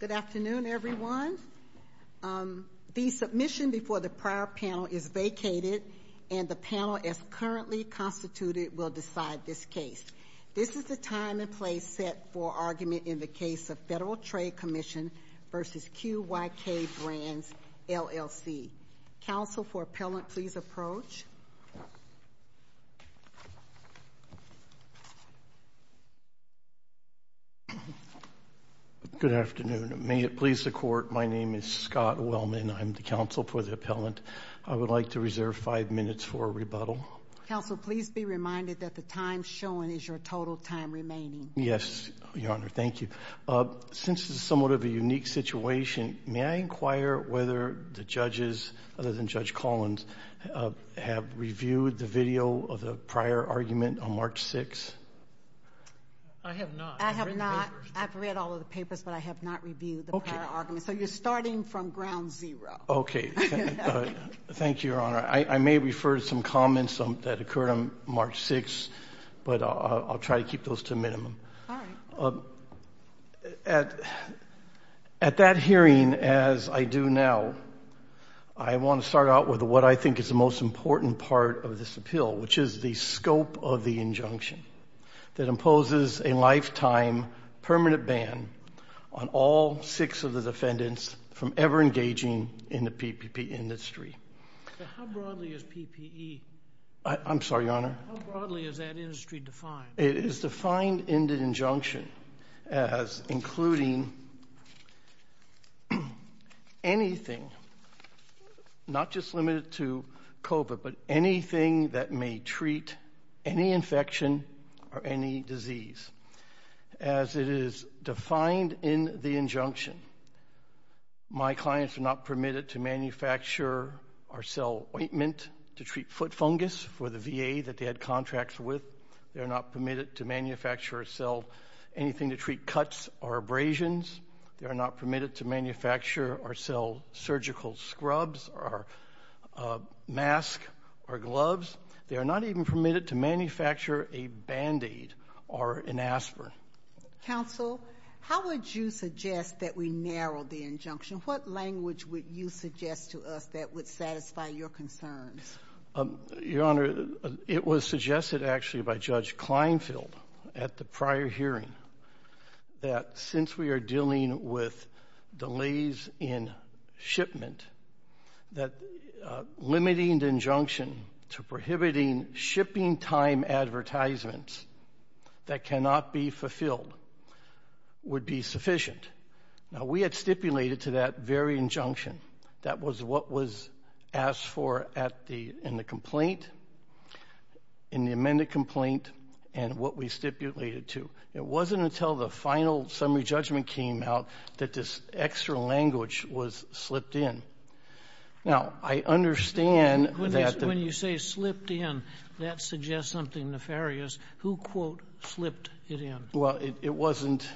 Good afternoon, everyone. The submission before the prior panel is vacated, and the panel, as currently constituted, will decide this case. This is the time and place set for argument in the case of Federal Trade Commission v. QYK Brands LLC. Council, for appellant, please approach. Scott Wellman Good afternoon. May it please the Court, my name is Scott Wellman. I'm the counsel for the appellant. I would like to reserve five minutes for a rebuttal. Counsel, please be reminded that the time shown is your total time remaining. Yes, Your Honor. Thank you. Since this is somewhat of a unique situation, may I inquire whether the judges, other than Judge Collins, have reviewed the video of the prior argument on March 6? I have not. I've read all of the papers, but I have not reviewed the prior argument. So you're starting from ground zero. Okay. Thank you, Your Honor. I may refer to some comments that occurred on March 6. As I do now, I want to start out with what I think is the most important part of this appeal, which is the scope of the injunction that imposes a lifetime permanent ban on all six of the defendants from ever engaging in the PPP industry. How broadly is PPE? I'm sorry, Your Honor. How broadly is that industry defined? It is defined in the injunction as including anything, not just limited to COVID, but anything that may treat any infection or any disease. As it is defined in the injunction, my clients are not permitted to manufacture or sell ointment to treat foot fungus for the VA that they had contracts with. They're not permitted to manufacture or sell anything to treat cuts or abrasions. They are not permitted to manufacture or sell surgical scrubs or masks or gloves. They are not even permitted to manufacture a Band-Aid or an aspirin. Counsel, how would you suggest that we narrow the injunction? What language would you suggest to us that would satisfy your concerns? Your Honor, it was suggested actually by Judge Kleinfeld at the prior hearing that since we are dealing with delays in shipment, that limiting the injunction to prohibiting shipping time advertisements that cannot be fulfilled would be sufficient. Now, we had stipulated to that very injunction. That was what was asked for in the complaint, in the amended complaint, and what we stipulated to. It wasn't until the final summary judgment came out that this extra language was slipped in. Now, I understand that... When you say slipped in, that suggests something nefarious. Who, quote, slipped it in? Well, it wasn't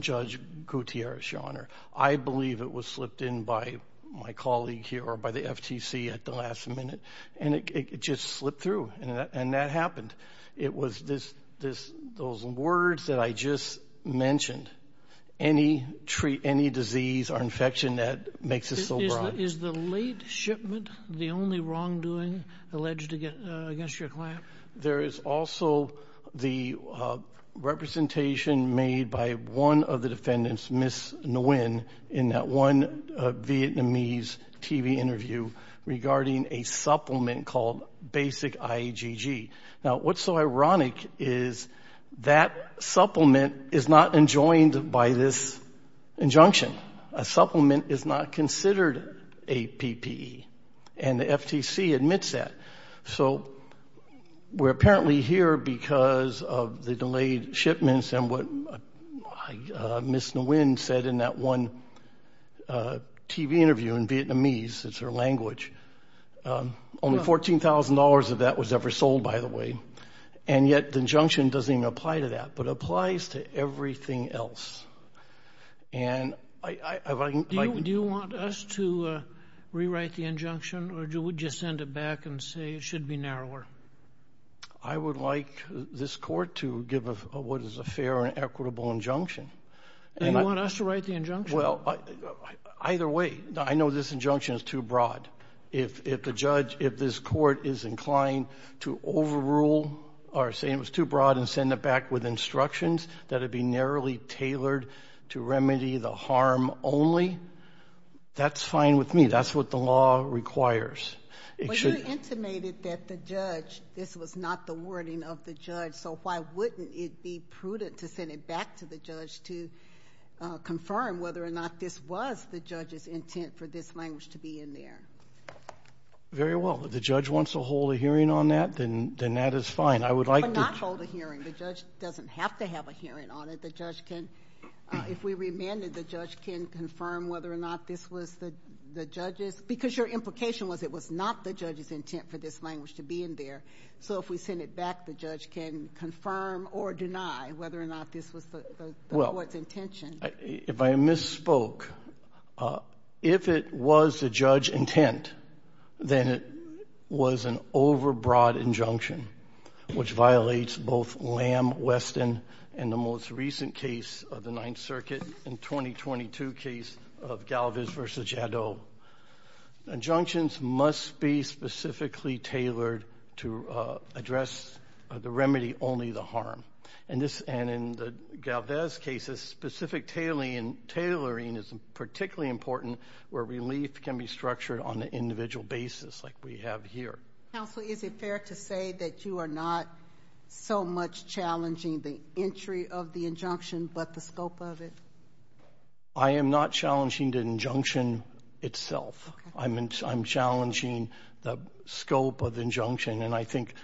Judge Gutierrez, Your Honor. I believe it was slipped in by my colleague here or by the FTC at the last minute, and it just slipped through, and that happened. It was those words that I just mentioned. Any disease or infection that makes it so broad. Is the late shipment the only wrongdoing alleged against your client? There is also the representation made by one of the defendants, Ms. Nguyen, in that one Vietnamese TV interview regarding a supplement called Basic IAGG. Now, what's so ironic is that supplement is not enjoined by this injunction. A supplement is not considered a PPE, and the FTC admits that. So we're apparently here because of the delayed shipments and what Ms. Nguyen said in that one TV interview in Vietnamese. It's her language. Only $14,000 of that was ever sold, by the way, and yet the injunction doesn't even apply to that, but applies to this case. Do you want us to rewrite the injunction, or would you send it back and say it should be narrower? I would like this court to give what is a fair and equitable injunction. And you want us to write the injunction? Well, either way. I know this injunction is too broad. If the judge, if this court is inclined to overrule or say it was too broad and send it back with That's fine with me. That's what the law requires. Well, you intimated that the judge, this was not the wording of the judge, so why wouldn't it be prudent to send it back to the judge to confirm whether or not this was the judge's intent for this language to be in there? Very well. If the judge wants to hold a hearing on that, then that is fine. I would like to... Well, not hold a hearing. The judge doesn't have to have a hearing on it. The judge can, if we remanded, the judge can confirm whether or not this was the judge's, because your implication was it was not the judge's intent for this language to be in there. So if we send it back, the judge can confirm or deny whether or not this was the court's intention. If I misspoke, if it was the judge's intent, then it was an overbroad injunction, which violates both Lamb, Weston, and the most of Galvez v. Jadot. Injunctions must be specifically tailored to address the remedy, only the harm. And in the Galvez cases, specific tailoring is particularly important where relief can be structured on an individual basis, like we have here. Counsel, is it fair to say that you are not so much challenging the entry of the injunction, but the scope of it? I am not challenging the injunction itself. I'm challenging the scope of the injunction. And I think,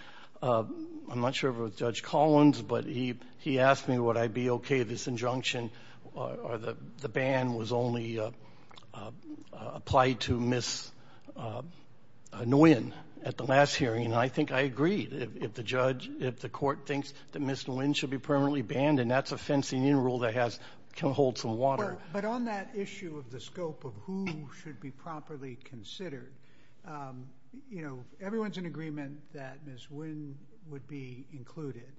I'm not sure if it was Judge Collins, but he asked me would I be okay with this injunction, or the ban was only applied to Ms. Nguyen at the last hearing. And I think I agree. If the judge, if the court thinks that Ms. Nguyen should be permanently banned, and that's a fencing-in rule that has, can hold some water. But on that issue of the scope of who should be properly considered, you know, everyone's in agreement that Ms. Nguyen would be included.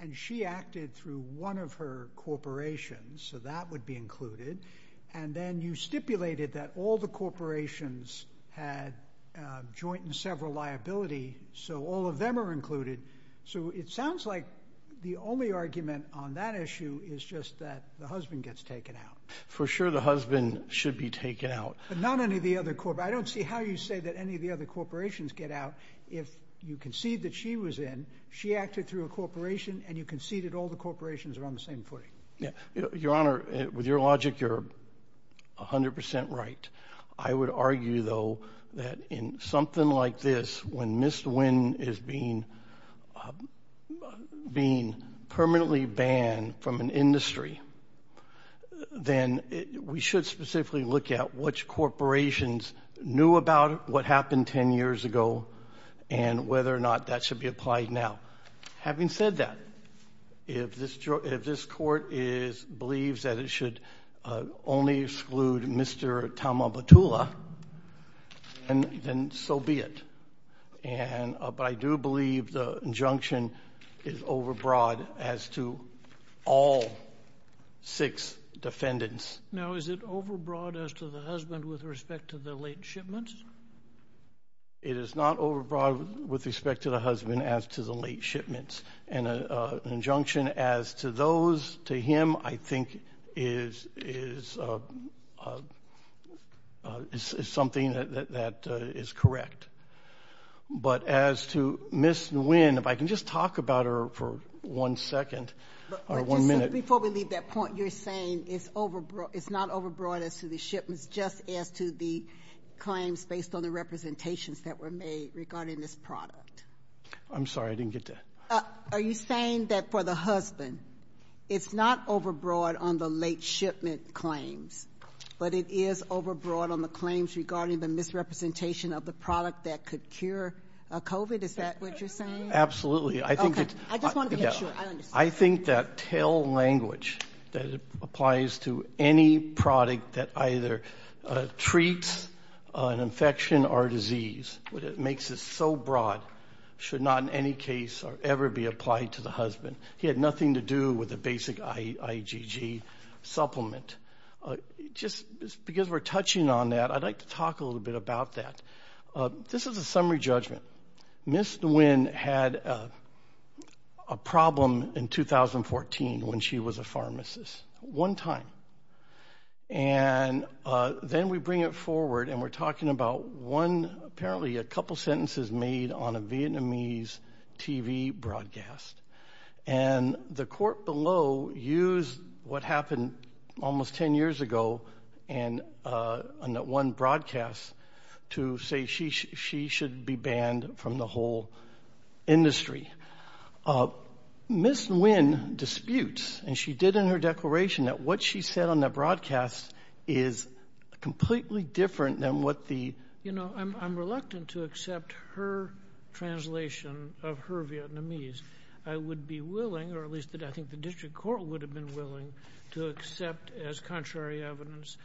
And she acted through one of her corporations, so that would be included. And then you stipulated that all the corporations had joint and several liability, so all of them are included. So it sounds like the only argument on that issue is just that the husband gets taken out. For sure, the husband should be taken out. But not any of the other, I don't see how you say that any of the other corporations get out. If you concede that she was in, she acted through a corporation, and you conceded all the corporations are on the same footing. Your Honor, with your logic, you're 100% right. I would argue, though, that in something like this, when Ms. Nguyen is being permanently banned from an industry, then we should specifically look at which corporations knew about what happened 10 years ago, and whether or not that should be applied now. Having said that, if this court believes that it should only exclude Mr. Thauma Tula, then so be it. But I do believe the injunction is overbroad as to all six defendants. Now, is it overbroad as to the husband with respect to the late shipments? It is not overbroad with respect to the husband as to the late shipments. And an injunction as to those to him, I think, is something that is correct. But as to Ms. Nguyen, if I can just talk about her for one second, or one minute. Before we leave that point, you're saying it's not overbroad as to the shipments, just as to the claims based on the representations that were made regarding this product? I'm sorry, I didn't get that. Are you saying that for the husband, it's not overbroad on the late shipment claims, but it is overbroad on the claims regarding the misrepresentation of the product that could cure COVID? Is that what you're saying? Absolutely. I think that tail language that applies to any product that either treats an infection or disease, it makes it so broad, should not in any case ever be applied to the husband. He had nothing to do with the basic IgG supplement. Just because we're touching on that, I'd like to talk a little bit about that. This is a summary judgment. Ms. Nguyen had a problem in 2014 when she was a pharmacist, one time. And then we bring it forward and we're talking about one, apparently a couple sentences made on a Vietnamese TV broadcast. And the court below used what happened almost 10 years ago on that one broadcast to say she should be banned from the whole industry. Ms. Nguyen disputes, and she did in her declaration, that what she said on that broadcast is completely different than what the... I would be willing, or at least I think the district court would have been willing, to accept as contrary evidence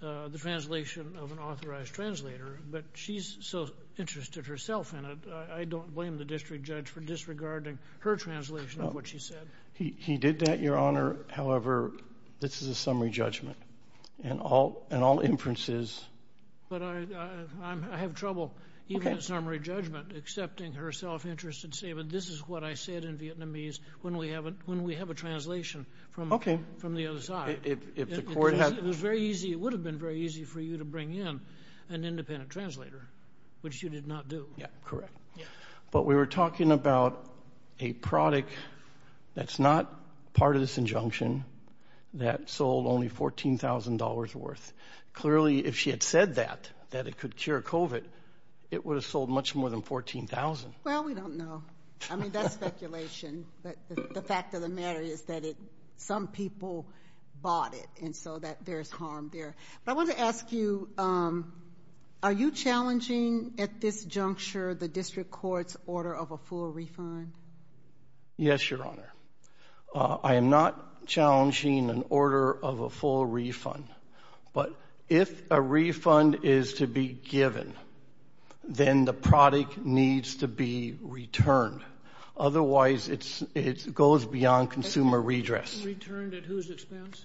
the translation of an authorized translator. But she's so interested herself in it, I don't blame the district judge for disregarding her translation of what she said. He did that, Your Honor. However, this is a summary judgment. And all inferences... But I have trouble, even in summary judgment, accepting her self-interest and say, but this is what I said in Vietnamese when we have a translation from the other side. It would have been very easy for you to bring in an independent translator, which you did not do. Yeah, correct. But we were talking about a product that's not part of this injunction that sold only $14,000 worth. Clearly, if she had said that, that it could cure COVID, it would have sold much more than $14,000. Well, we don't know. I mean, that's speculation. But the fact of the matter is that some people bought it, and so there's harm there. But I wanted to ask you, are you challenging at this juncture the district court's order of a full refund? Yes, Your Honor. I am not challenging an order of a full refund. But if a refund is to be given, then the product needs to be returned. Otherwise, it goes beyond consumer redress. Returned at whose expense?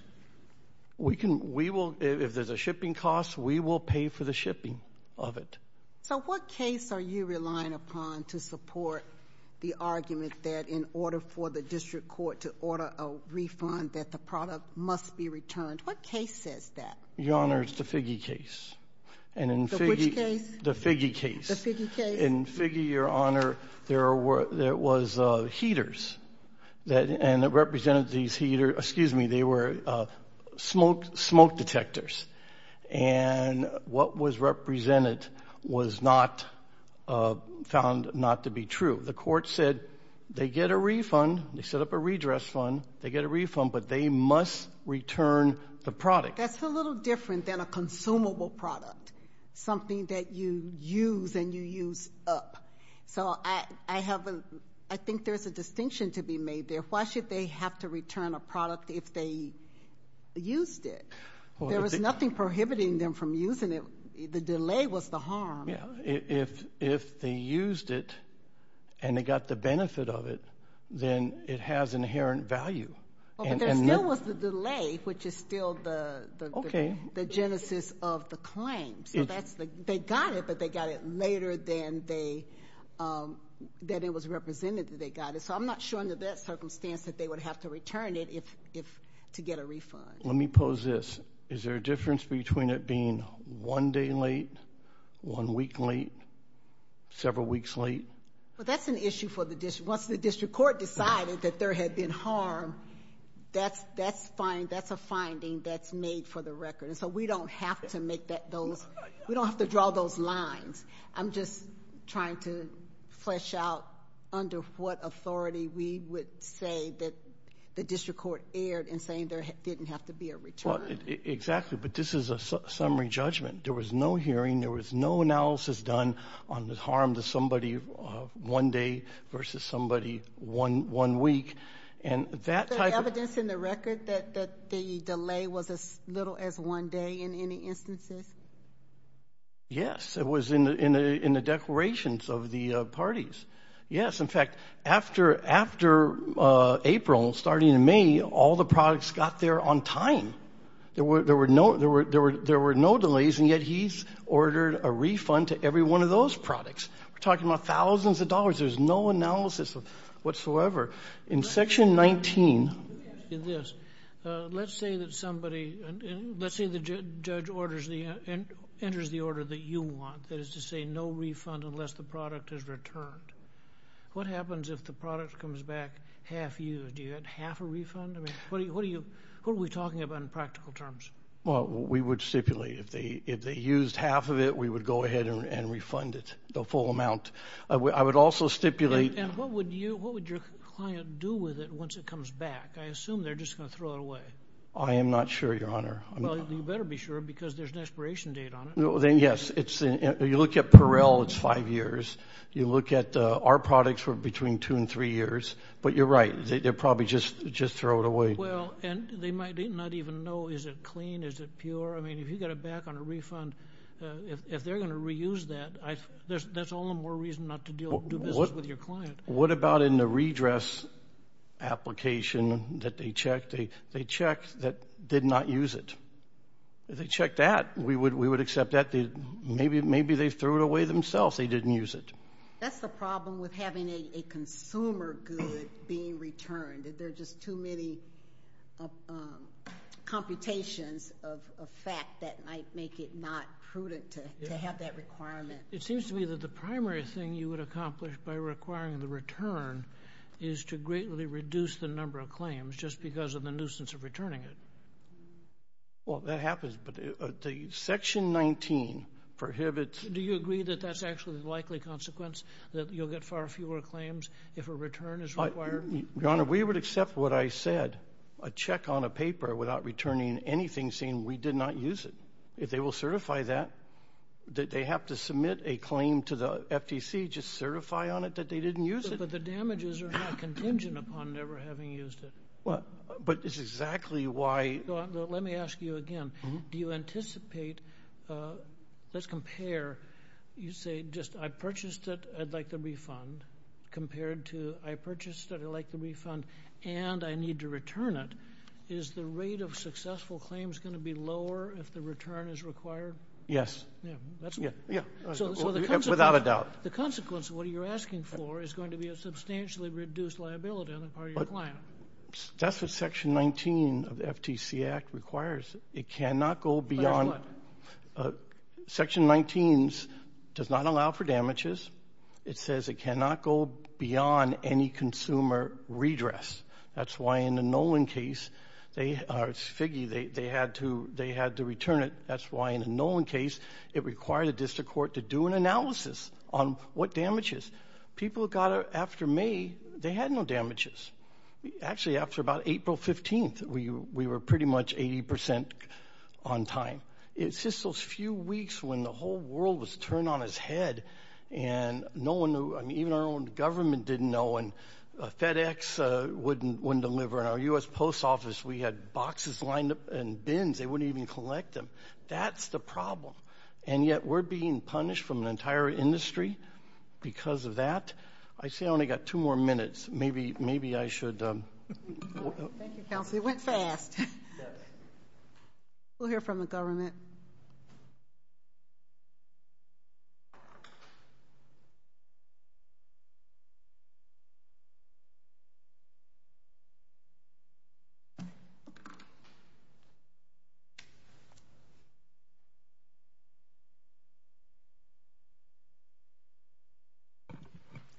If there's a shipping cost, we will pay for the shipping of it. So what case are you relying upon to support the argument that in order for the district court to order a refund, that the product must be returned? What case says that? Your Honor, it's the Figge case. Which case? The Figge case. The Figge case? In Figge, Your Honor, there was heaters that represented these heaters. Excuse me, they were smoke detectors. And what was represented was found not to be true. The court said they get a refund, they set up a redress fund, they get a refund, but they must return the product. That's a little different than a consumable product, something that you use and you use up. So I think there's a distinction to be made there. Why should they have to return a product if they used it? There was nothing prohibiting them from using it. The delay was the harm. If they used it and they got the benefit of it, then it has inherent value. But there still was the delay, which is still the genesis of the claim. So they got it, but they got it later than it was represented that they got it. So I'm not sure under that circumstance that they would have to return it to get a refund. Let me pose this. Is there a difference between it being one day late, one week late, several weeks late? Well, that's an issue for the district. Once the district court decided that there had been harm, that's a finding that's made for the record. So we don't have to draw those lines. I'm just trying to flesh out under what authority we would say that the district court erred in saying there didn't have to be a return. Exactly. But this is a summary judgment. There was no hearing. There was no analysis done on the harm to somebody one day versus somebody one week. Is there evidence in the record that the delay was as little as one day in any instances? Yes. It was in the declarations of the parties. Yes. In fact, after April, starting in May, all the products got there on time. There were no delays, and yet he's ordered a refund to every one of those products. We're talking about thousands of dollars. There's no analysis whatsoever. Let's say the judge enters the order that you want, that is to say no refund unless the product is returned. What happens if the product comes back half-used? Do you get half a refund? What are we talking about in practical terms? Well, we would stipulate if they used half of it, we would go ahead and refund it, the full amount. I would also stipulate... And what would your client do with it once it comes back? I assume they're just going to throw it away. I am not sure, Your Honor. Well, you better be sure because there's an expiration date on it. Yes. You look at Perel, it's five years. You look at our products, we're between two and three years. But you're right. They'd probably just throw it away. Well, and they might not even know is it clean, is it pure. I mean, if you got it back on a refund, if they're going to reuse that, that's all the more reason not to do business with your client. What about in the redress application that they checked? They checked that did not use it. They checked that. We would accept that. Maybe they threw it away themselves. They didn't use it. That's the problem with having a consumer good being returned. There are just too many computations of fact that might make it not prudent to have that requirement. It seems to me that the primary thing you would accomplish by requiring the return is to greatly reduce the number of claims just because of the nuisance of returning it. Well, that happens. But Section 19 prohibits... Do you agree that that's actually the likely consequence that you'll get far fewer claims if a return is required? Your Honor, we would accept what I said. A check on a paper without returning anything saying we did not use it. If they will certify that, that they have to submit a claim to the FTC, just certify on it that they didn't use it. But the damages are not contingent upon never having used it. But it's exactly why... Let me ask you again. Do you anticipate... Let's compare. You say just I purchased it, I'd like the refund compared to I purchased it, I'd like the refund and I need to return it. Is the rate of successful claims going to be lower if the return is required? Yes. Without a doubt. The consequence of what you're asking for is going to be a substantially reduced liability on the part of your client. That's what Section 19 of the FTC Act requires. It cannot go beyond... But it's what? Section 19 does not allow for damages. It says it cannot go beyond any consumer redress. That's why in the Nolan case, they had to return it. That's why in the Nolan case, it required a district court to do an analysis on what damages. People got it after May. They had no damages. Actually, after about April 15th, we were pretty much 80% on time. It's just those few weeks when the whole world was turned on its head and no one knew. I mean, even our own government didn't know. And FedEx wouldn't deliver. In our U.S. Post Office, we had boxes lined up in bins. They wouldn't even collect them. That's the problem. And yet we're being punished from the entire industry because of that. I say I only got two more minutes. Maybe I should... Thank you, Counselor. It went fast. We'll hear from the government.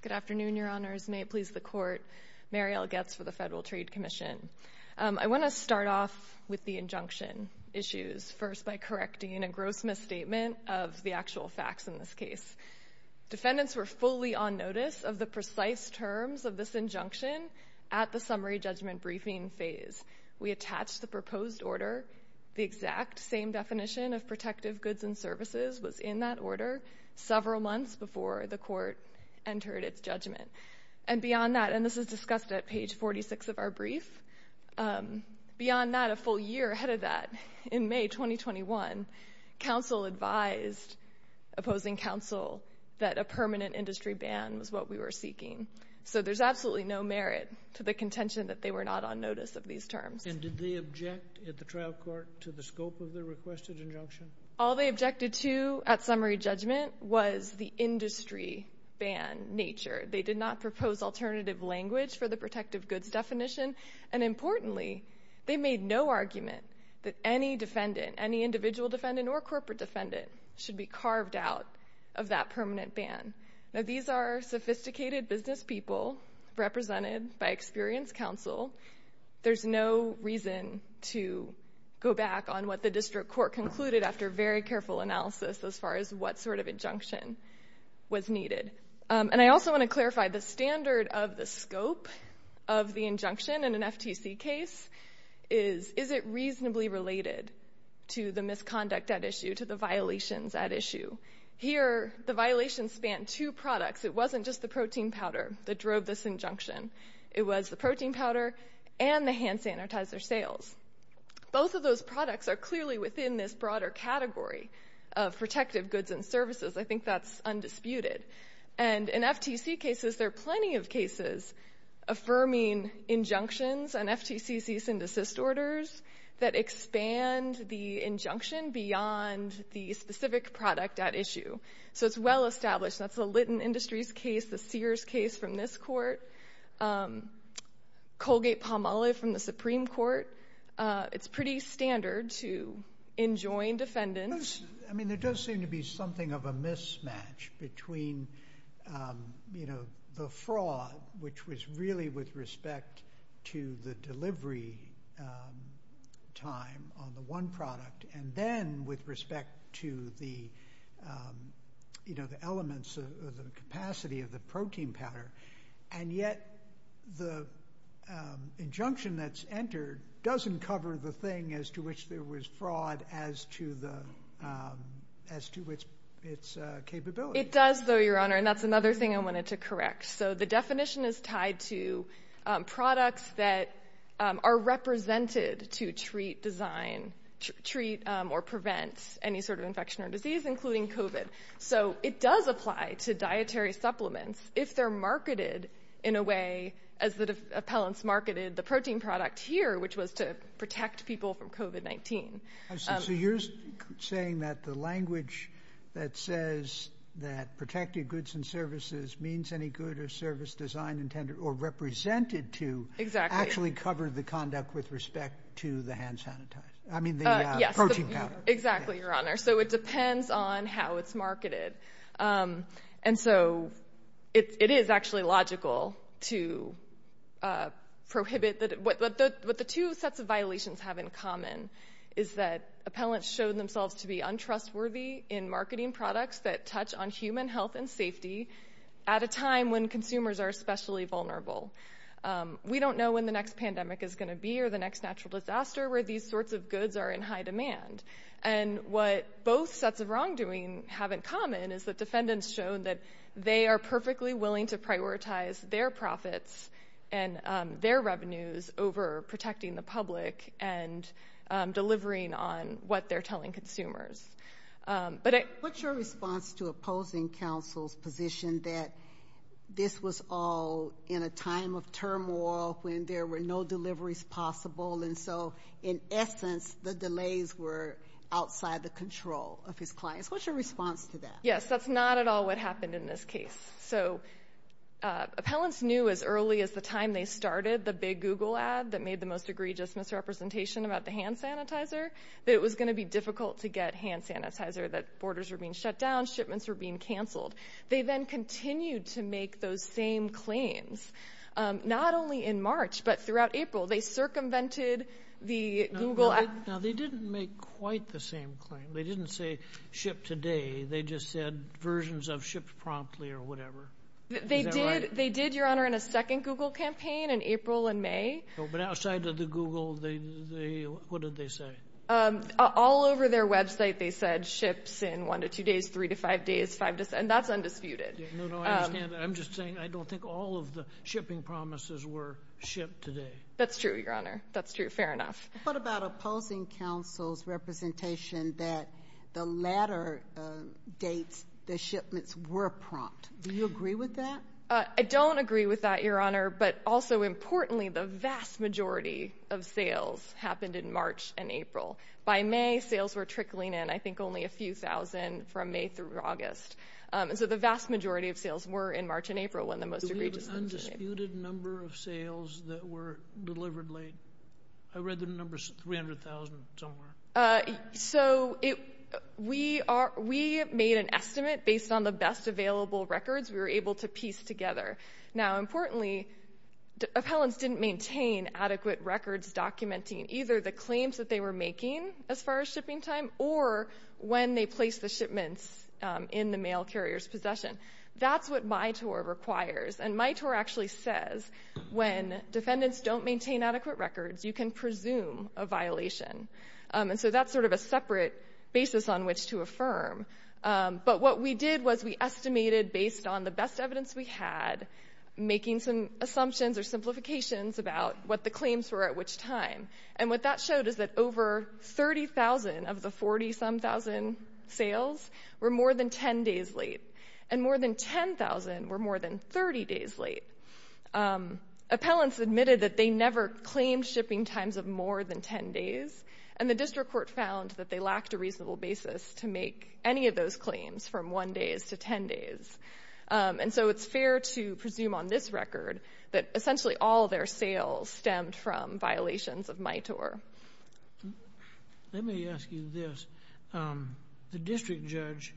Good afternoon, Your Honors. May it please the Court. Mariel Goetz for the Federal Trade Commission. I want to start off with the injunction issues first by correcting a gross misstatement of the actual facts in this case. Defendants were fully on notice of the precise terms of this injunction at the summary judgment briefing phase. We attached the proposed order. The exact same definition of protective goods and services was in that order several months before the Court entered its judgment. And beyond that, and this is discussed at page 46 of our brief, beyond that, a full year ahead of that, in May 2021, counsel advised opposing counsel that a permanent industry ban was what we were seeking. So there's absolutely no merit to the contention that they were not on notice of these terms. And did they object at the trial court to the scope of the requested injunction? All they objected to at summary judgment was the industry ban nature. They did not propose alternative language for the protective goods definition. And importantly, they made no argument that any defendant, any individual defendant or corporate defendant, should be carved out of that permanent ban. Now, these are sophisticated business people represented by experienced counsel. There's no reason to go back on what the district court concluded after very careful analysis as far as what sort of injunction was needed. And I also want to clarify the standard of the scope of the injunction in an FTC case is, is it reasonably related to the misconduct at issue, to the violations at issue? Here, the violations span two products. It wasn't just the protein powder that drove this injunction. It was the protein powder and the hand sanitizer sales. Both of those products are clearly within this broader category of protective goods and services. I think that's undisputed. And in FTC cases, there are plenty of cases affirming injunctions and FTC cease and desist orders that expand the injunction beyond the specific product at issue. So it's well established. That's the Litton Industries case, the Sears case from this court, Colgate-Palmolive from the Supreme Court. It's pretty standard to enjoin defendants. I mean, there does seem to be something of a mismatch between, you know, the fraud, which was really with respect to the delivery time on the one product, and then with respect to the, you know, the elements of the capacity of the protein powder. And yet the injunction that's entered doesn't cover the thing as to which there was fraud as to its capability. It does, though, Your Honor, and that's another thing I wanted to correct. So the definition is tied to products that are represented to treat design, treat or prevent any sort of infection or disease, including COVID. So it does apply to dietary supplements. If they're marketed in a way as the appellants marketed the protein product here, which was to protect people from COVID-19. So you're saying that the language that says that protected goods and services means any good or service design intended or represented to actually cover the conduct with respect to the hand sanitizer. I mean, the protein powder. Exactly, Your Honor. So it depends on how it's marketed. And so it is actually logical to prohibit that. What the two sets of violations have in common is that appellants show themselves to be untrustworthy in marketing products that touch on human health and safety at a time when consumers are especially vulnerable. We don't know when the next pandemic is going to be or the next natural disaster where these sorts of goods are in high demand. And what both sets of wrongdoing have in common is that defendants show that they are perfectly willing to prioritize their profits and their revenues over protecting the public and delivering on what they're telling consumers. But what's your response to opposing counsel's position that this was all in a time of turmoil when there were no deliveries possible? And so, in essence, the delays were outside the control of his clients. What's your response to that? Yes, that's not at all what happened in this case. So appellants knew as early as the time they started the big Google ad that made the most egregious misrepresentation about the hand sanitizer that it was going to be difficult to get hand sanitizer, that borders were being shut down, shipments were being canceled. They then continued to make those same claims, not only in March but throughout April. They circumvented the Google ad. Now, they didn't make quite the same claim. They didn't say ship today. They just said versions of ships promptly or whatever. Is that right? They did, Your Honor, in a second Google campaign in April and May. But outside of the Google, what did they say? All over their website, they said ships in one to two days, three to five days, five to seven. That's undisputed. No, no, I understand that. I'm just saying I don't think all of the shipping promises were shipped today. That's true, Your Honor. That's true. Fair enough. What about opposing counsel's representation that the latter dates the shipments were prompt? Do you agree with that? I don't agree with that, Your Honor. But also importantly, the vast majority of sales happened in March and April. By May, sales were trickling in, I think only a few thousand from May through August. So the vast majority of sales were in March and April when the most egregious misrepresentation. What was the undisputed number of sales that were delivered late? I read the number's 300,000 somewhere. So we made an estimate based on the best available records we were able to piece together. Now, importantly, appellants didn't maintain adequate records documenting either the claims that they were making as far as shipping time or when they placed the shipments in the mail carrier's possession. That's what Mitor requires. And Mitor actually says when defendants don't maintain adequate records, you can presume a violation. And so that's sort of a separate basis on which to affirm. But what we did was we estimated based on the best evidence we had, making some assumptions or simplifications about what the claims were at which time. And what that showed is that over 30,000 of the 40-some-thousand sales were more than 10 days late. And more than 10,000 were more than 30 days late. Appellants admitted that they never claimed shipping times of more than 10 days. And the district court found that they lacked a reasonable basis to make any of those claims from 1 days to 10 days. And so it's fair to presume on this record that essentially all their sales stemmed from violations of Mitor. Let me ask you this. The district judge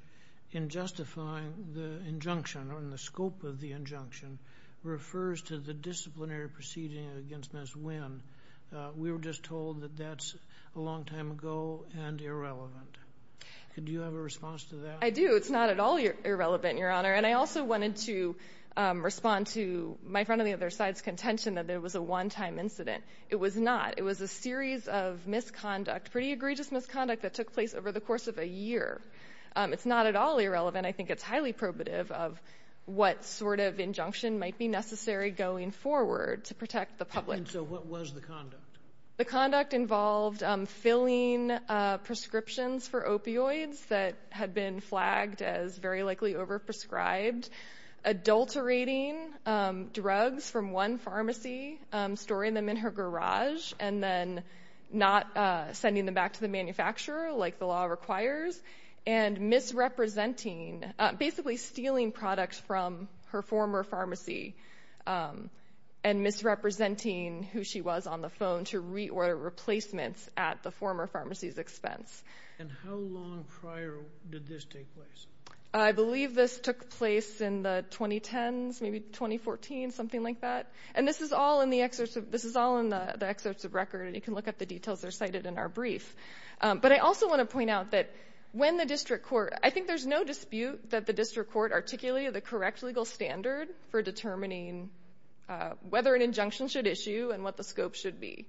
in justifying the injunction or in the scope of the injunction refers to the disciplinary proceeding against Ms. Wynn. We were just told that that's a long time ago and irrelevant. Do you have a response to that? I do. It's not at all irrelevant, Your Honor. And I also wanted to respond to my friend on the other side's contention that it was a one-time incident. It was not. It was a series of misconduct, pretty egregious misconduct, that took place over the course of a year. It's not at all irrelevant. I think it's highly probative of what sort of injunction might be necessary going forward to protect the public. And so what was the conduct? The conduct involved filling prescriptions for opioids that had been flagged as very likely overprescribed, adulterating drugs from one pharmacy, storing them in her garage, and then not sending them back to the manufacturer like the law requires, and misrepresenting, basically stealing products from her former pharmacy and misrepresenting who she was on the phone to reorder replacements at the former pharmacy's expense. And how long prior did this take place? I believe this took place in the 2010s, maybe 2014, something like that. And this is all in the excerpts of record, and you can look up the details. They're cited in our brief. But I also want to point out that when the district court – I think there's no dispute that the district court articulated the correct legal standard for determining whether an injunction should issue and what the scope should be.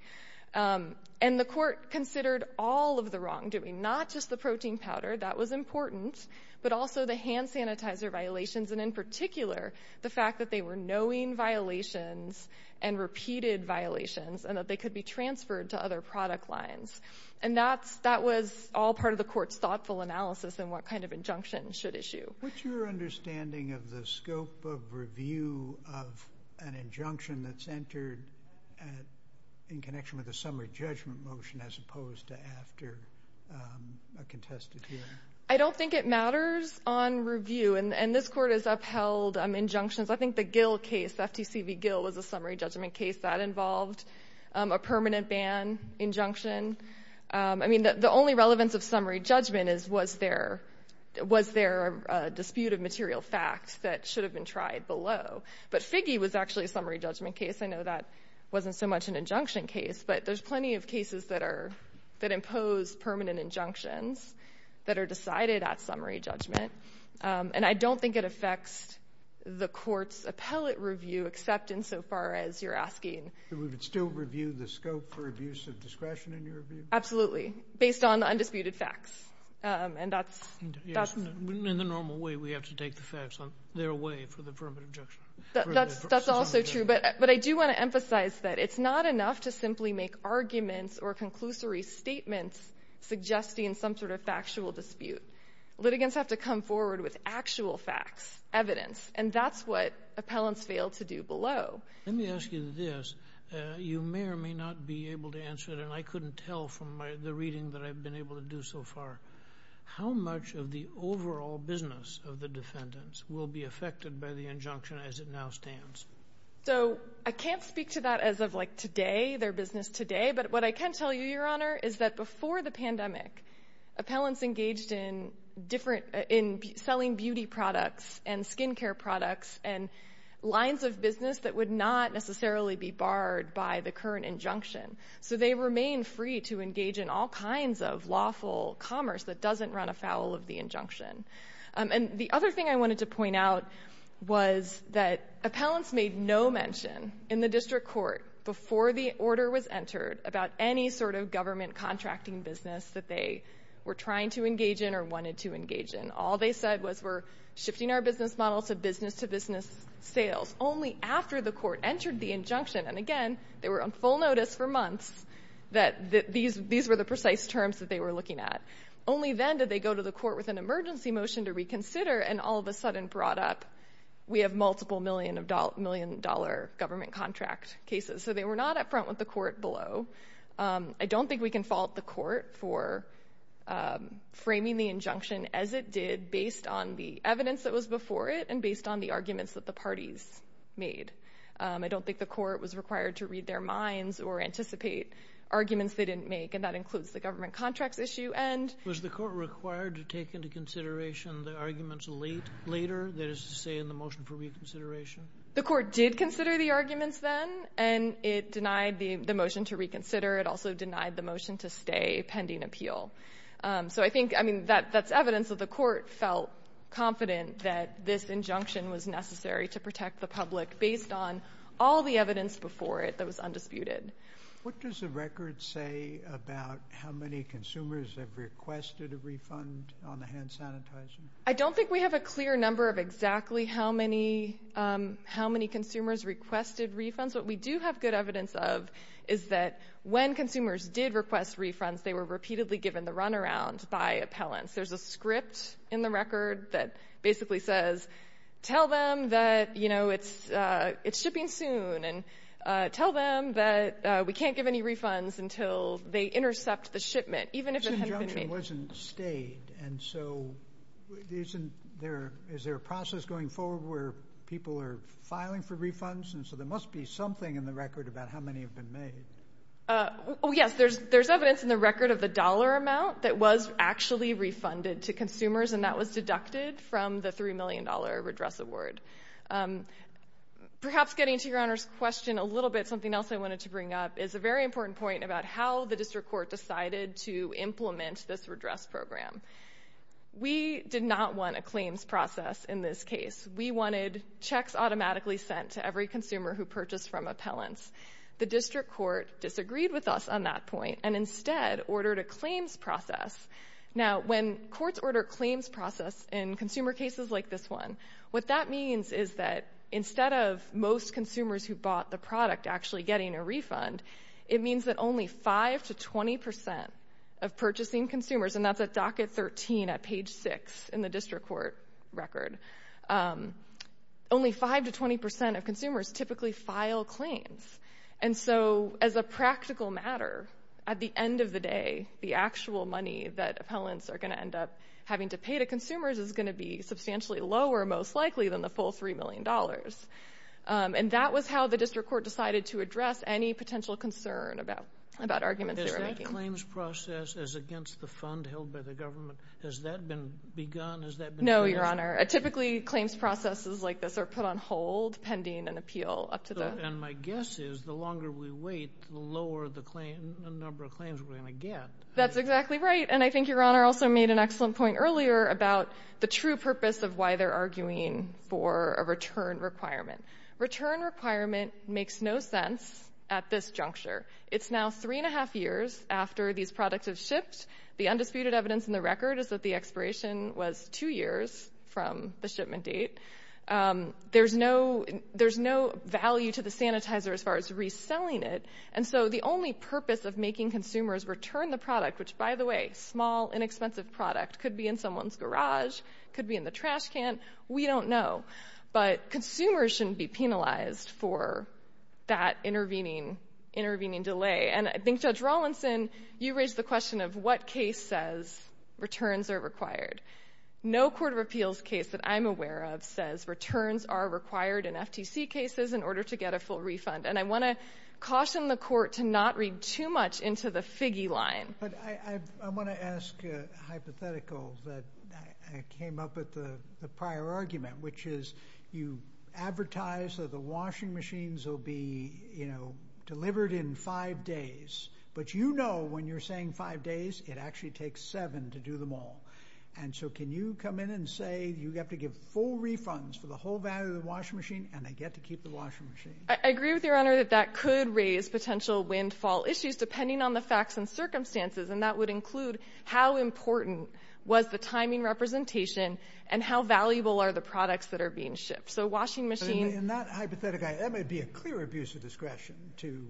And the court considered all of the wrongdoing, not just the protein powder. That was important, but also the hand sanitizer violations, and in particular the fact that they were knowing violations and repeated violations and that they could be transferred to other product lines. And that was all part of the court's thoughtful analysis in what kind of injunction should issue. What's your understanding of the scope of review of an injunction that's entered in connection with a summary judgment motion as opposed to after a contested hearing? I don't think it matters on review, and this court has upheld injunctions. I think the Gill case, the FTC v. Gill, was a summary judgment case. That involved a permanent ban injunction. I mean, the only relevance of summary judgment is was there a dispute of material facts that should have been tried below. But Figge was actually a summary judgment case. I know that wasn't so much an injunction case, but there's plenty of cases that impose permanent injunctions that are decided at summary judgment. And I don't think it affects the court's appellate review except insofar as you're asking. Do we still review the scope for abuse of discretion in your review? Absolutely, based on the undisputed facts. In the normal way, we have to take the facts on their way for the permanent injunction. That's also true. But I do want to emphasize that it's not enough to simply make arguments or conclusory statements suggesting some sort of factual dispute. Litigants have to come forward with actual facts, evidence, and that's what appellants fail to do below. Let me ask you this. You may or may not be able to answer it, and I couldn't tell from the reading that I've been able to do so far, how much of the overall business of the defendants will be affected by the injunction as it now stands? So I can't speak to that as of, like, today, their business today, but what I can tell you, Your Honor, is that before the pandemic, appellants engaged in selling beauty products and skin care products and lines of business that would not necessarily be barred by the current injunction. So they remain free to engage in all kinds of lawful commerce that doesn't run afoul of the injunction. And the other thing I wanted to point out was that appellants made no mention in the district court before the order was entered about any sort of government contracting business that they were trying to engage in or wanted to engage in. All they said was we're shifting our business model to business-to-business sales only after the court entered the injunction. And, again, they were on full notice for months that these were the precise terms that they were looking at. Only then did they go to the court with an emergency motion to reconsider, and all of a sudden brought up we have multiple million-dollar government contract cases. So they were not up front with the court below. I don't think we can fault the court for framing the injunction as it did based on the evidence that was before it and based on the arguments that the parties made. I don't think the court was required to read their minds or anticipate arguments they didn't make, and that includes the government contracts issue. And was the court required to take into consideration the arguments later, that is to say in the motion for reconsideration? The court did consider the arguments then, and it denied the motion to reconsider. It also denied the motion to stay pending appeal. So I think, I mean, that's evidence that the court felt confident that this injunction was necessary to protect the public based on all the evidence before it that was undisputed. What does the record say about how many consumers have requested a refund on the hand sanitizing? I don't think we have a clear number of exactly how many consumers requested refunds. What we do have good evidence of is that when consumers did request refunds, they were repeatedly given the runaround by appellants. There's a script in the record that basically says tell them that, you know, it's shipping soon and tell them that we can't give any refunds until they intercept the shipment, even if it hasn't been paid. This injunction wasn't stayed, and so isn't there, is there a process going forward where people are filing for refunds? And so there must be something in the record about how many have been made. Yes, there's evidence in the record of the dollar amount that was actually refunded to consumers, and that was deducted from the $3 million redress award. Perhaps getting to Your Honor's question a little bit, something else I wanted to bring up, is a very important point about how the district court decided to implement this redress program. We did not want a claims process in this case. We wanted checks automatically sent to every consumer who purchased from appellants. The district court disagreed with us on that point and instead ordered a claims process. Now, when courts order claims process in consumer cases like this one, what that means is that instead of most consumers who bought the product actually getting a refund, it means that only 5 to 20% of purchasing consumers, and that's at docket 13 at page 6 in the district court record, only 5 to 20% of consumers typically file claims. And so as a practical matter, at the end of the day, the actual money that appellants are going to end up having to pay to consumers is going to be substantially lower, most likely, than the full $3 million. And that was how the district court decided to address any potential concern about arguments they were making. Is that claims process as against the fund held by the government, has that been begun? No, Your Honor. Typically, claims processes like this are put on hold pending an appeal. And my guess is the longer we wait, the lower the number of claims we're going to get. That's exactly right, and I think Your Honor also made an excellent point earlier about the true purpose of why they're arguing for a return requirement. Return requirement makes no sense at this juncture. It's now 3 1⁄2 years after these products have shipped. The undisputed evidence in the record is that the expiration was 2 years from the shipment date. There's no value to the sanitizer as far as reselling it. And so the only purpose of making consumers return the product, which, by the way, small, inexpensive product, could be in someone's garage, could be in the trash can, we don't know. But consumers shouldn't be penalized for that intervening delay. And I think, Judge Rawlinson, you raised the question of what case says returns are required. No court of appeals case that I'm aware of says returns are required in FTC cases in order to get a full refund. And I want to caution the Court to not read too much into the figgy line. But I want to ask a hypothetical that came up with the prior argument, which is you advertise that the washing machines will be delivered in five days. But you know when you're saying five days it actually takes seven to do them all. And so can you come in and say you have to give full refunds for the whole value of the washing machine and they get to keep the washing machine? I agree with Your Honor that that could raise potential windfall issues depending on the facts and circumstances. And that would include how important was the timing representation and how valuable are the products that are being shipped. So washing machines... In that hypothetical, that might be a clear abuse of discretion to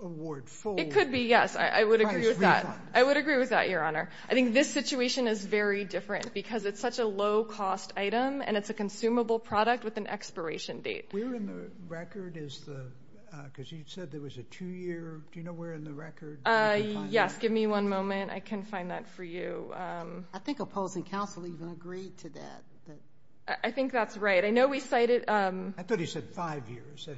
award full... It could be, yes. I would agree with that. I would agree with that, Your Honor. I think this situation is very different because it's such a low-cost item and it's a consumable product with an expiration date. Where in the record is the... because you said there was a two-year... Do you know where in the record... Yes, give me one moment. I can find that for you. I think opposing counsel even agreed to that. I think that's right. I know we cited... I thought he said five years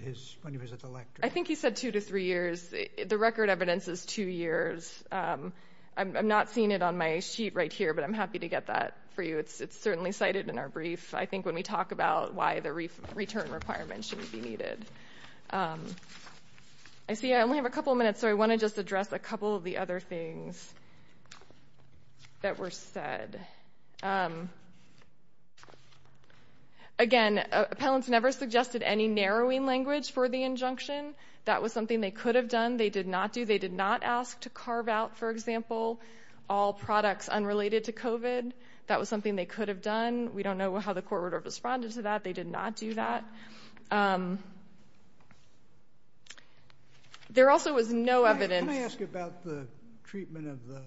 when he was at the lectern. I think he said two to three years. The record evidence is two years. I'm not seeing it on my sheet right here, but I'm happy to get that for you. It's certainly cited in our brief. I think when we talk about why the return requirement shouldn't be needed. I see I only have a couple of minutes, so I want to just address a couple of the other things that were said. Again, appellants never suggested any narrowing language for the injunction. That was something they could have done. They did not do. They did not ask to carve out, for example, all products unrelated to COVID. That was something they could have done. We don't know how the court would have responded to that. They did not do that. There also was no evidence... Let me ask you about the treatment of the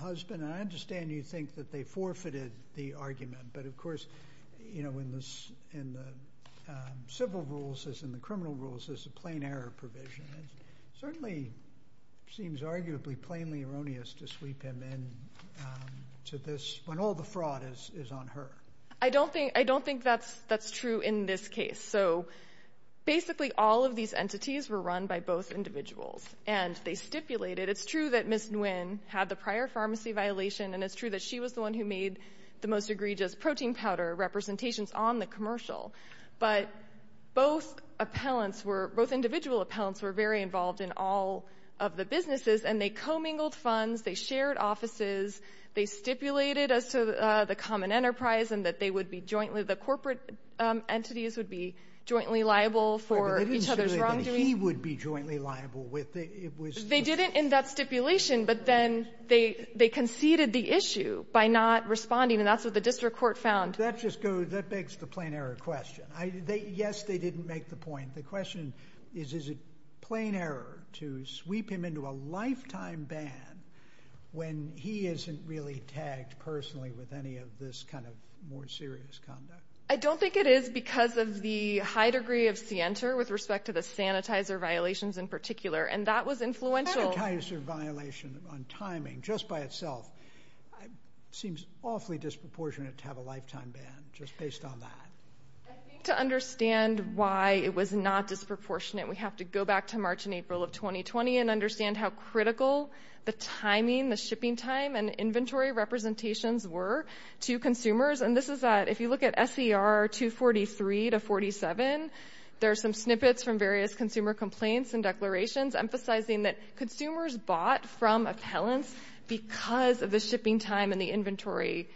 husband. I understand you think that they forfeited the argument, but of course in the civil rules as in the criminal rules, there's a plain error provision. It certainly seems arguably plainly erroneous to sweep him into this when all the fraud is on her. I don't think that's true in this case. Basically, all of these entities were run by both individuals, and they stipulated... It's true that Ms. Nguyen had the prior pharmacy violation, and it's true that she was the one who made the most egregious protein powder representations on the commercial, but both individual appellants were very involved in all of the businesses, and they commingled funds, they shared offices, they stipulated as to the common enterprise and that they would be jointly... The corporate entities would be jointly liable for each other's wrongdoing. They didn't say that he would be jointly liable. They didn't in that stipulation, but then they conceded the issue by not responding, and that's what the district court found. That begs the plain error question. Yes, they didn't make the point. The question is, is it plain error to sweep him into a lifetime ban when he isn't really tagged personally with any of this kind of more serious conduct? I don't think it is because of the high degree of scienter with respect to the sanitizer violations in particular, and that was influential. Sanitizer violation on timing just by itself seems awfully disproportionate to have a lifetime ban just based on that. I think to understand why it was not disproportionate, we have to go back to March and April of 2020 and understand how critical the timing, the shipping time, and inventory representations were to consumers, and this is at... If you look at SER 243 to 47, there are some snippets from various consumer complaints and declarations emphasizing that consumers bought from appellants because of the shipping time and the inventory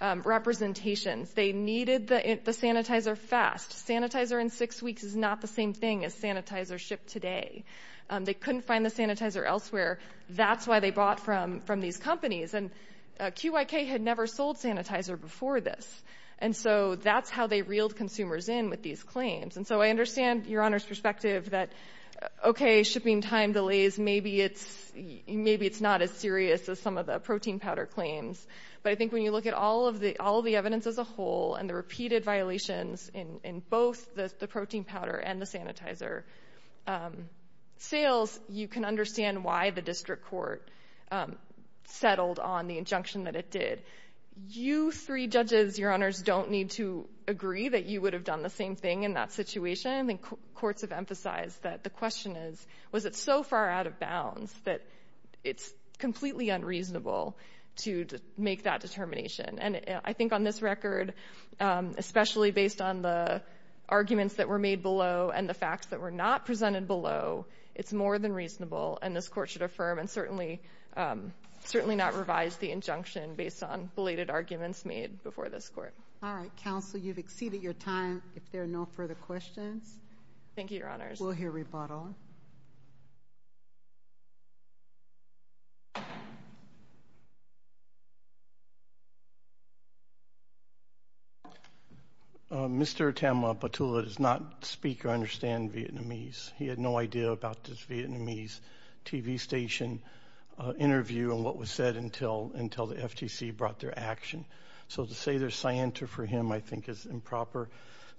representations. They needed the sanitizer fast. Sanitizer in six weeks is not the same thing as sanitizer shipped today. They couldn't find the sanitizer elsewhere. That's why they bought from these companies, and QIK had never sold sanitizer before this, and so that's how they reeled consumers in with these claims, and so I understand Your Honor's perspective that, okay, shipping time delays, maybe it's not as serious as some of the protein powder claims, but I think when you look at all of the evidence as a whole and the repeated violations in both the protein powder and the sanitizer, sales, you can understand why the district court settled on the injunction that it did. You three judges, Your Honors, don't need to agree that you would have done the same thing in that situation, and courts have emphasized that the question is, was it so far out of bounds that it's completely unreasonable to make that determination, and I think on this record, especially based on the arguments that were made below and the facts that were not presented below, it's more than reasonable, and this court should affirm and certainly not revise the injunction based on belated arguments made before this court. All right. Counsel, you've exceeded your time. If there are no further questions. Thank you, Your Honors. We'll hear rebuttal. Mr. Tamla? Mr. Tamla Patula does not speak or understand Vietnamese. He had no idea about this Vietnamese TV station interview and what was said until the FTC brought their action. So to say there's scienter for him I think is improper.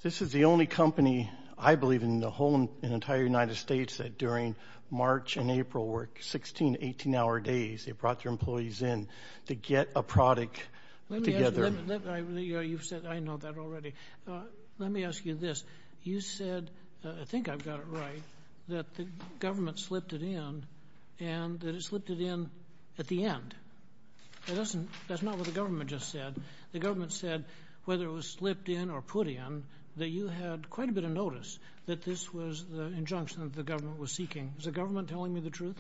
This is the only company, I believe, in the whole and entire United States that during March and April were 16 to 18-hour days they brought their employees in to get a product together. You've said that. I know that already. Let me ask you this. You said, I think I've got it right, that the government slipped it in and that it slipped it in at the end. That's not what the government just said. The government said whether it was slipped in or put in that you had quite a bit of notice that this was the injunction that the government was seeking. Is the government telling me the truth?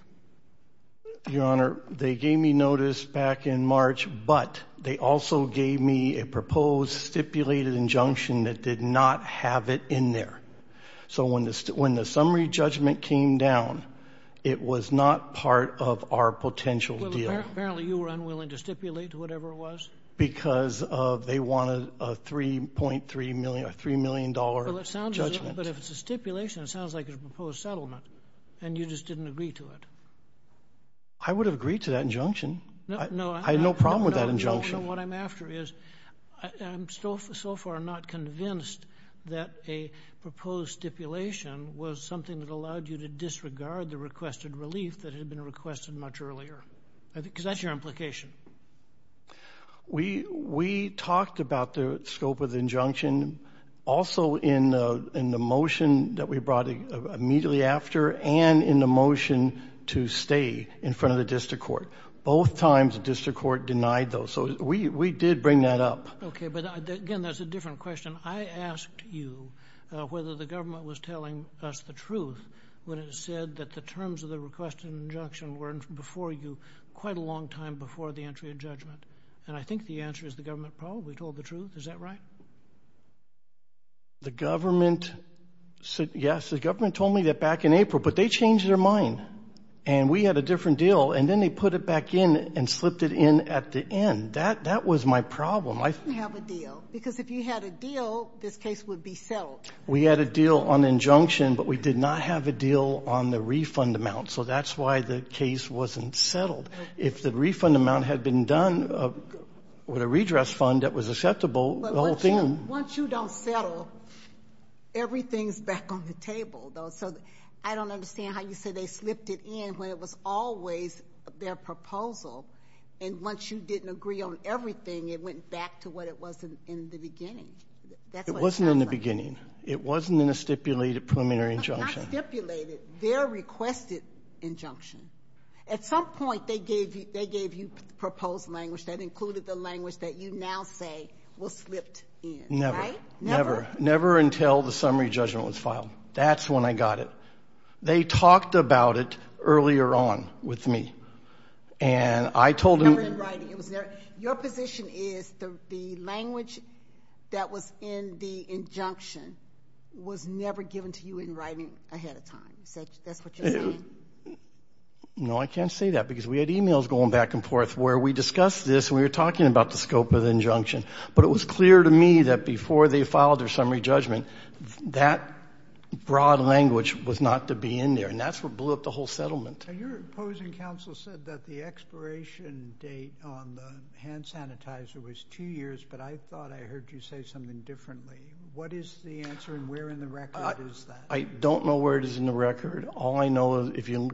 Your Honor, they gave me notice back in March, but they also gave me a proposed stipulated injunction that did not have it in there. So when the summary judgment came down, it was not part of our potential deal. Well, apparently you were unwilling to stipulate whatever it was. Because they wanted a $3 million judgment. But if it's a stipulation, it sounds like it's a proposed settlement, and you just didn't agree to it. I would have agreed to that injunction. I had no problem with that injunction. What I'm after is I'm so far not convinced that a proposed stipulation was something that allowed you to disregard the requested relief that had been requested much earlier. Because that's your implication. We talked about the scope of the injunction also in the motion that we brought immediately after and in the motion to stay in front of the district court. Both times, the district court denied those. So we did bring that up. Okay, but again, that's a different question. I asked you whether the government was telling us the truth when it said that the terms of the requested injunction were before you quite a long time before the entry of judgment. And I think the answer is the government probably told the truth. Is that right? The government said yes. The government told me that back in April. But they changed their mind. And we had a different deal. And then they put it back in and slipped it in at the end. That was my problem. You didn't have a deal. Because if you had a deal, this case would be settled. We had a deal on injunction, but we did not have a deal on the refund amount. So that's why the case wasn't settled. If the refund amount had been done with a redress fund that was acceptable, the whole thing would be settled. Once you don't settle, everything is back on the table. I don't understand how you say they slipped it in when it was always their proposal. And once you didn't agree on everything, it went back to what it was in the beginning. It wasn't in a stipulated preliminary injunction. Not stipulated. Their requested injunction. At some point, they gave you proposed language that included the language that you now say was slipped in. Never. Never. Never until the summary judgment was filed. That's when I got it. They talked about it earlier on with me. And I told them. No, in writing. Your position is the language that was in the injunction was never given to you in writing ahead of time. Is that what you're saying? No, I can't say that. Because we had e-mails going back and forth where we discussed this and we were talking about the scope of the injunction. But it was clear to me that before they filed their summary judgment, that broad language was not to be in there. And that's what blew up the whole settlement. Your opposing counsel said that the expiration date on the hand sanitizer was two years, but I thought I heard you say something differently. What is the answer and where in the record is that? I don't know where it is in the record. All I know is if you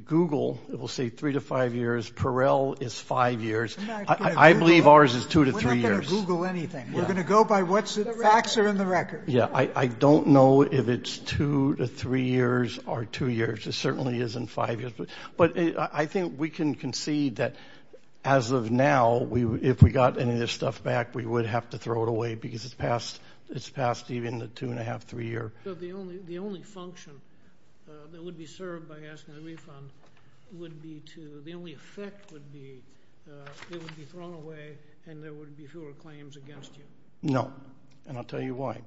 Google, it will say three to five years. Perel is five years. I believe ours is two to three years. We're not going to Google anything. We're going to go by what facts are in the record. Yeah. I don't know if it's two to three years or two years. It certainly isn't five years. But I think we can concede that as of now, if we got any of this stuff back, we would have to throw it away because it's past even the two and a half, three year. So the only function that would be served by asking the refund would be to, the only effect would be it would be thrown away and there would be fewer claims against you. No. And I'll tell you why.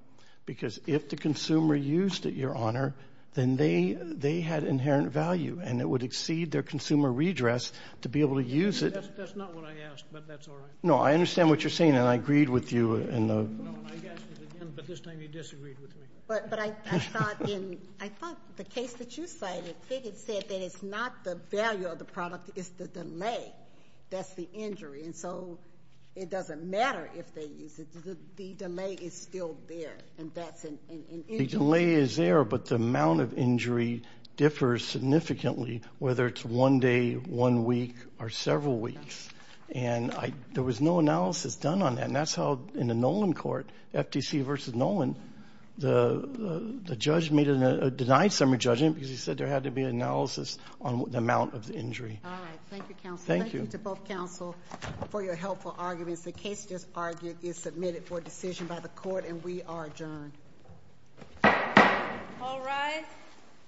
Because if the consumer used it, Your Honor, then they had inherent value and it would exceed their consumer redress to be able to use it. That's not what I asked, but that's all right. No, I understand what you're saying and I agreed with you. No, I asked it again, but this time you disagreed with me. But I thought in the case that you cited, they had said that it's not the value of the product, it's the delay. That's the injury. And so it doesn't matter if they use it. The delay is still there and that's an injury. The delay is there, but the amount of injury differs significantly, whether it's one day, one week, or several weeks. And there was no analysis done on that. And that's how in the Nolan court, FTC versus Nolan, the judge denied summary judgment because he said there had to be an analysis on the amount of the injury. All right. Thank you, counsel. Thank you. Thank you to both counsel for your helpful arguments. The case just argued is submitted for decision by the court and we are adjourned. All rise.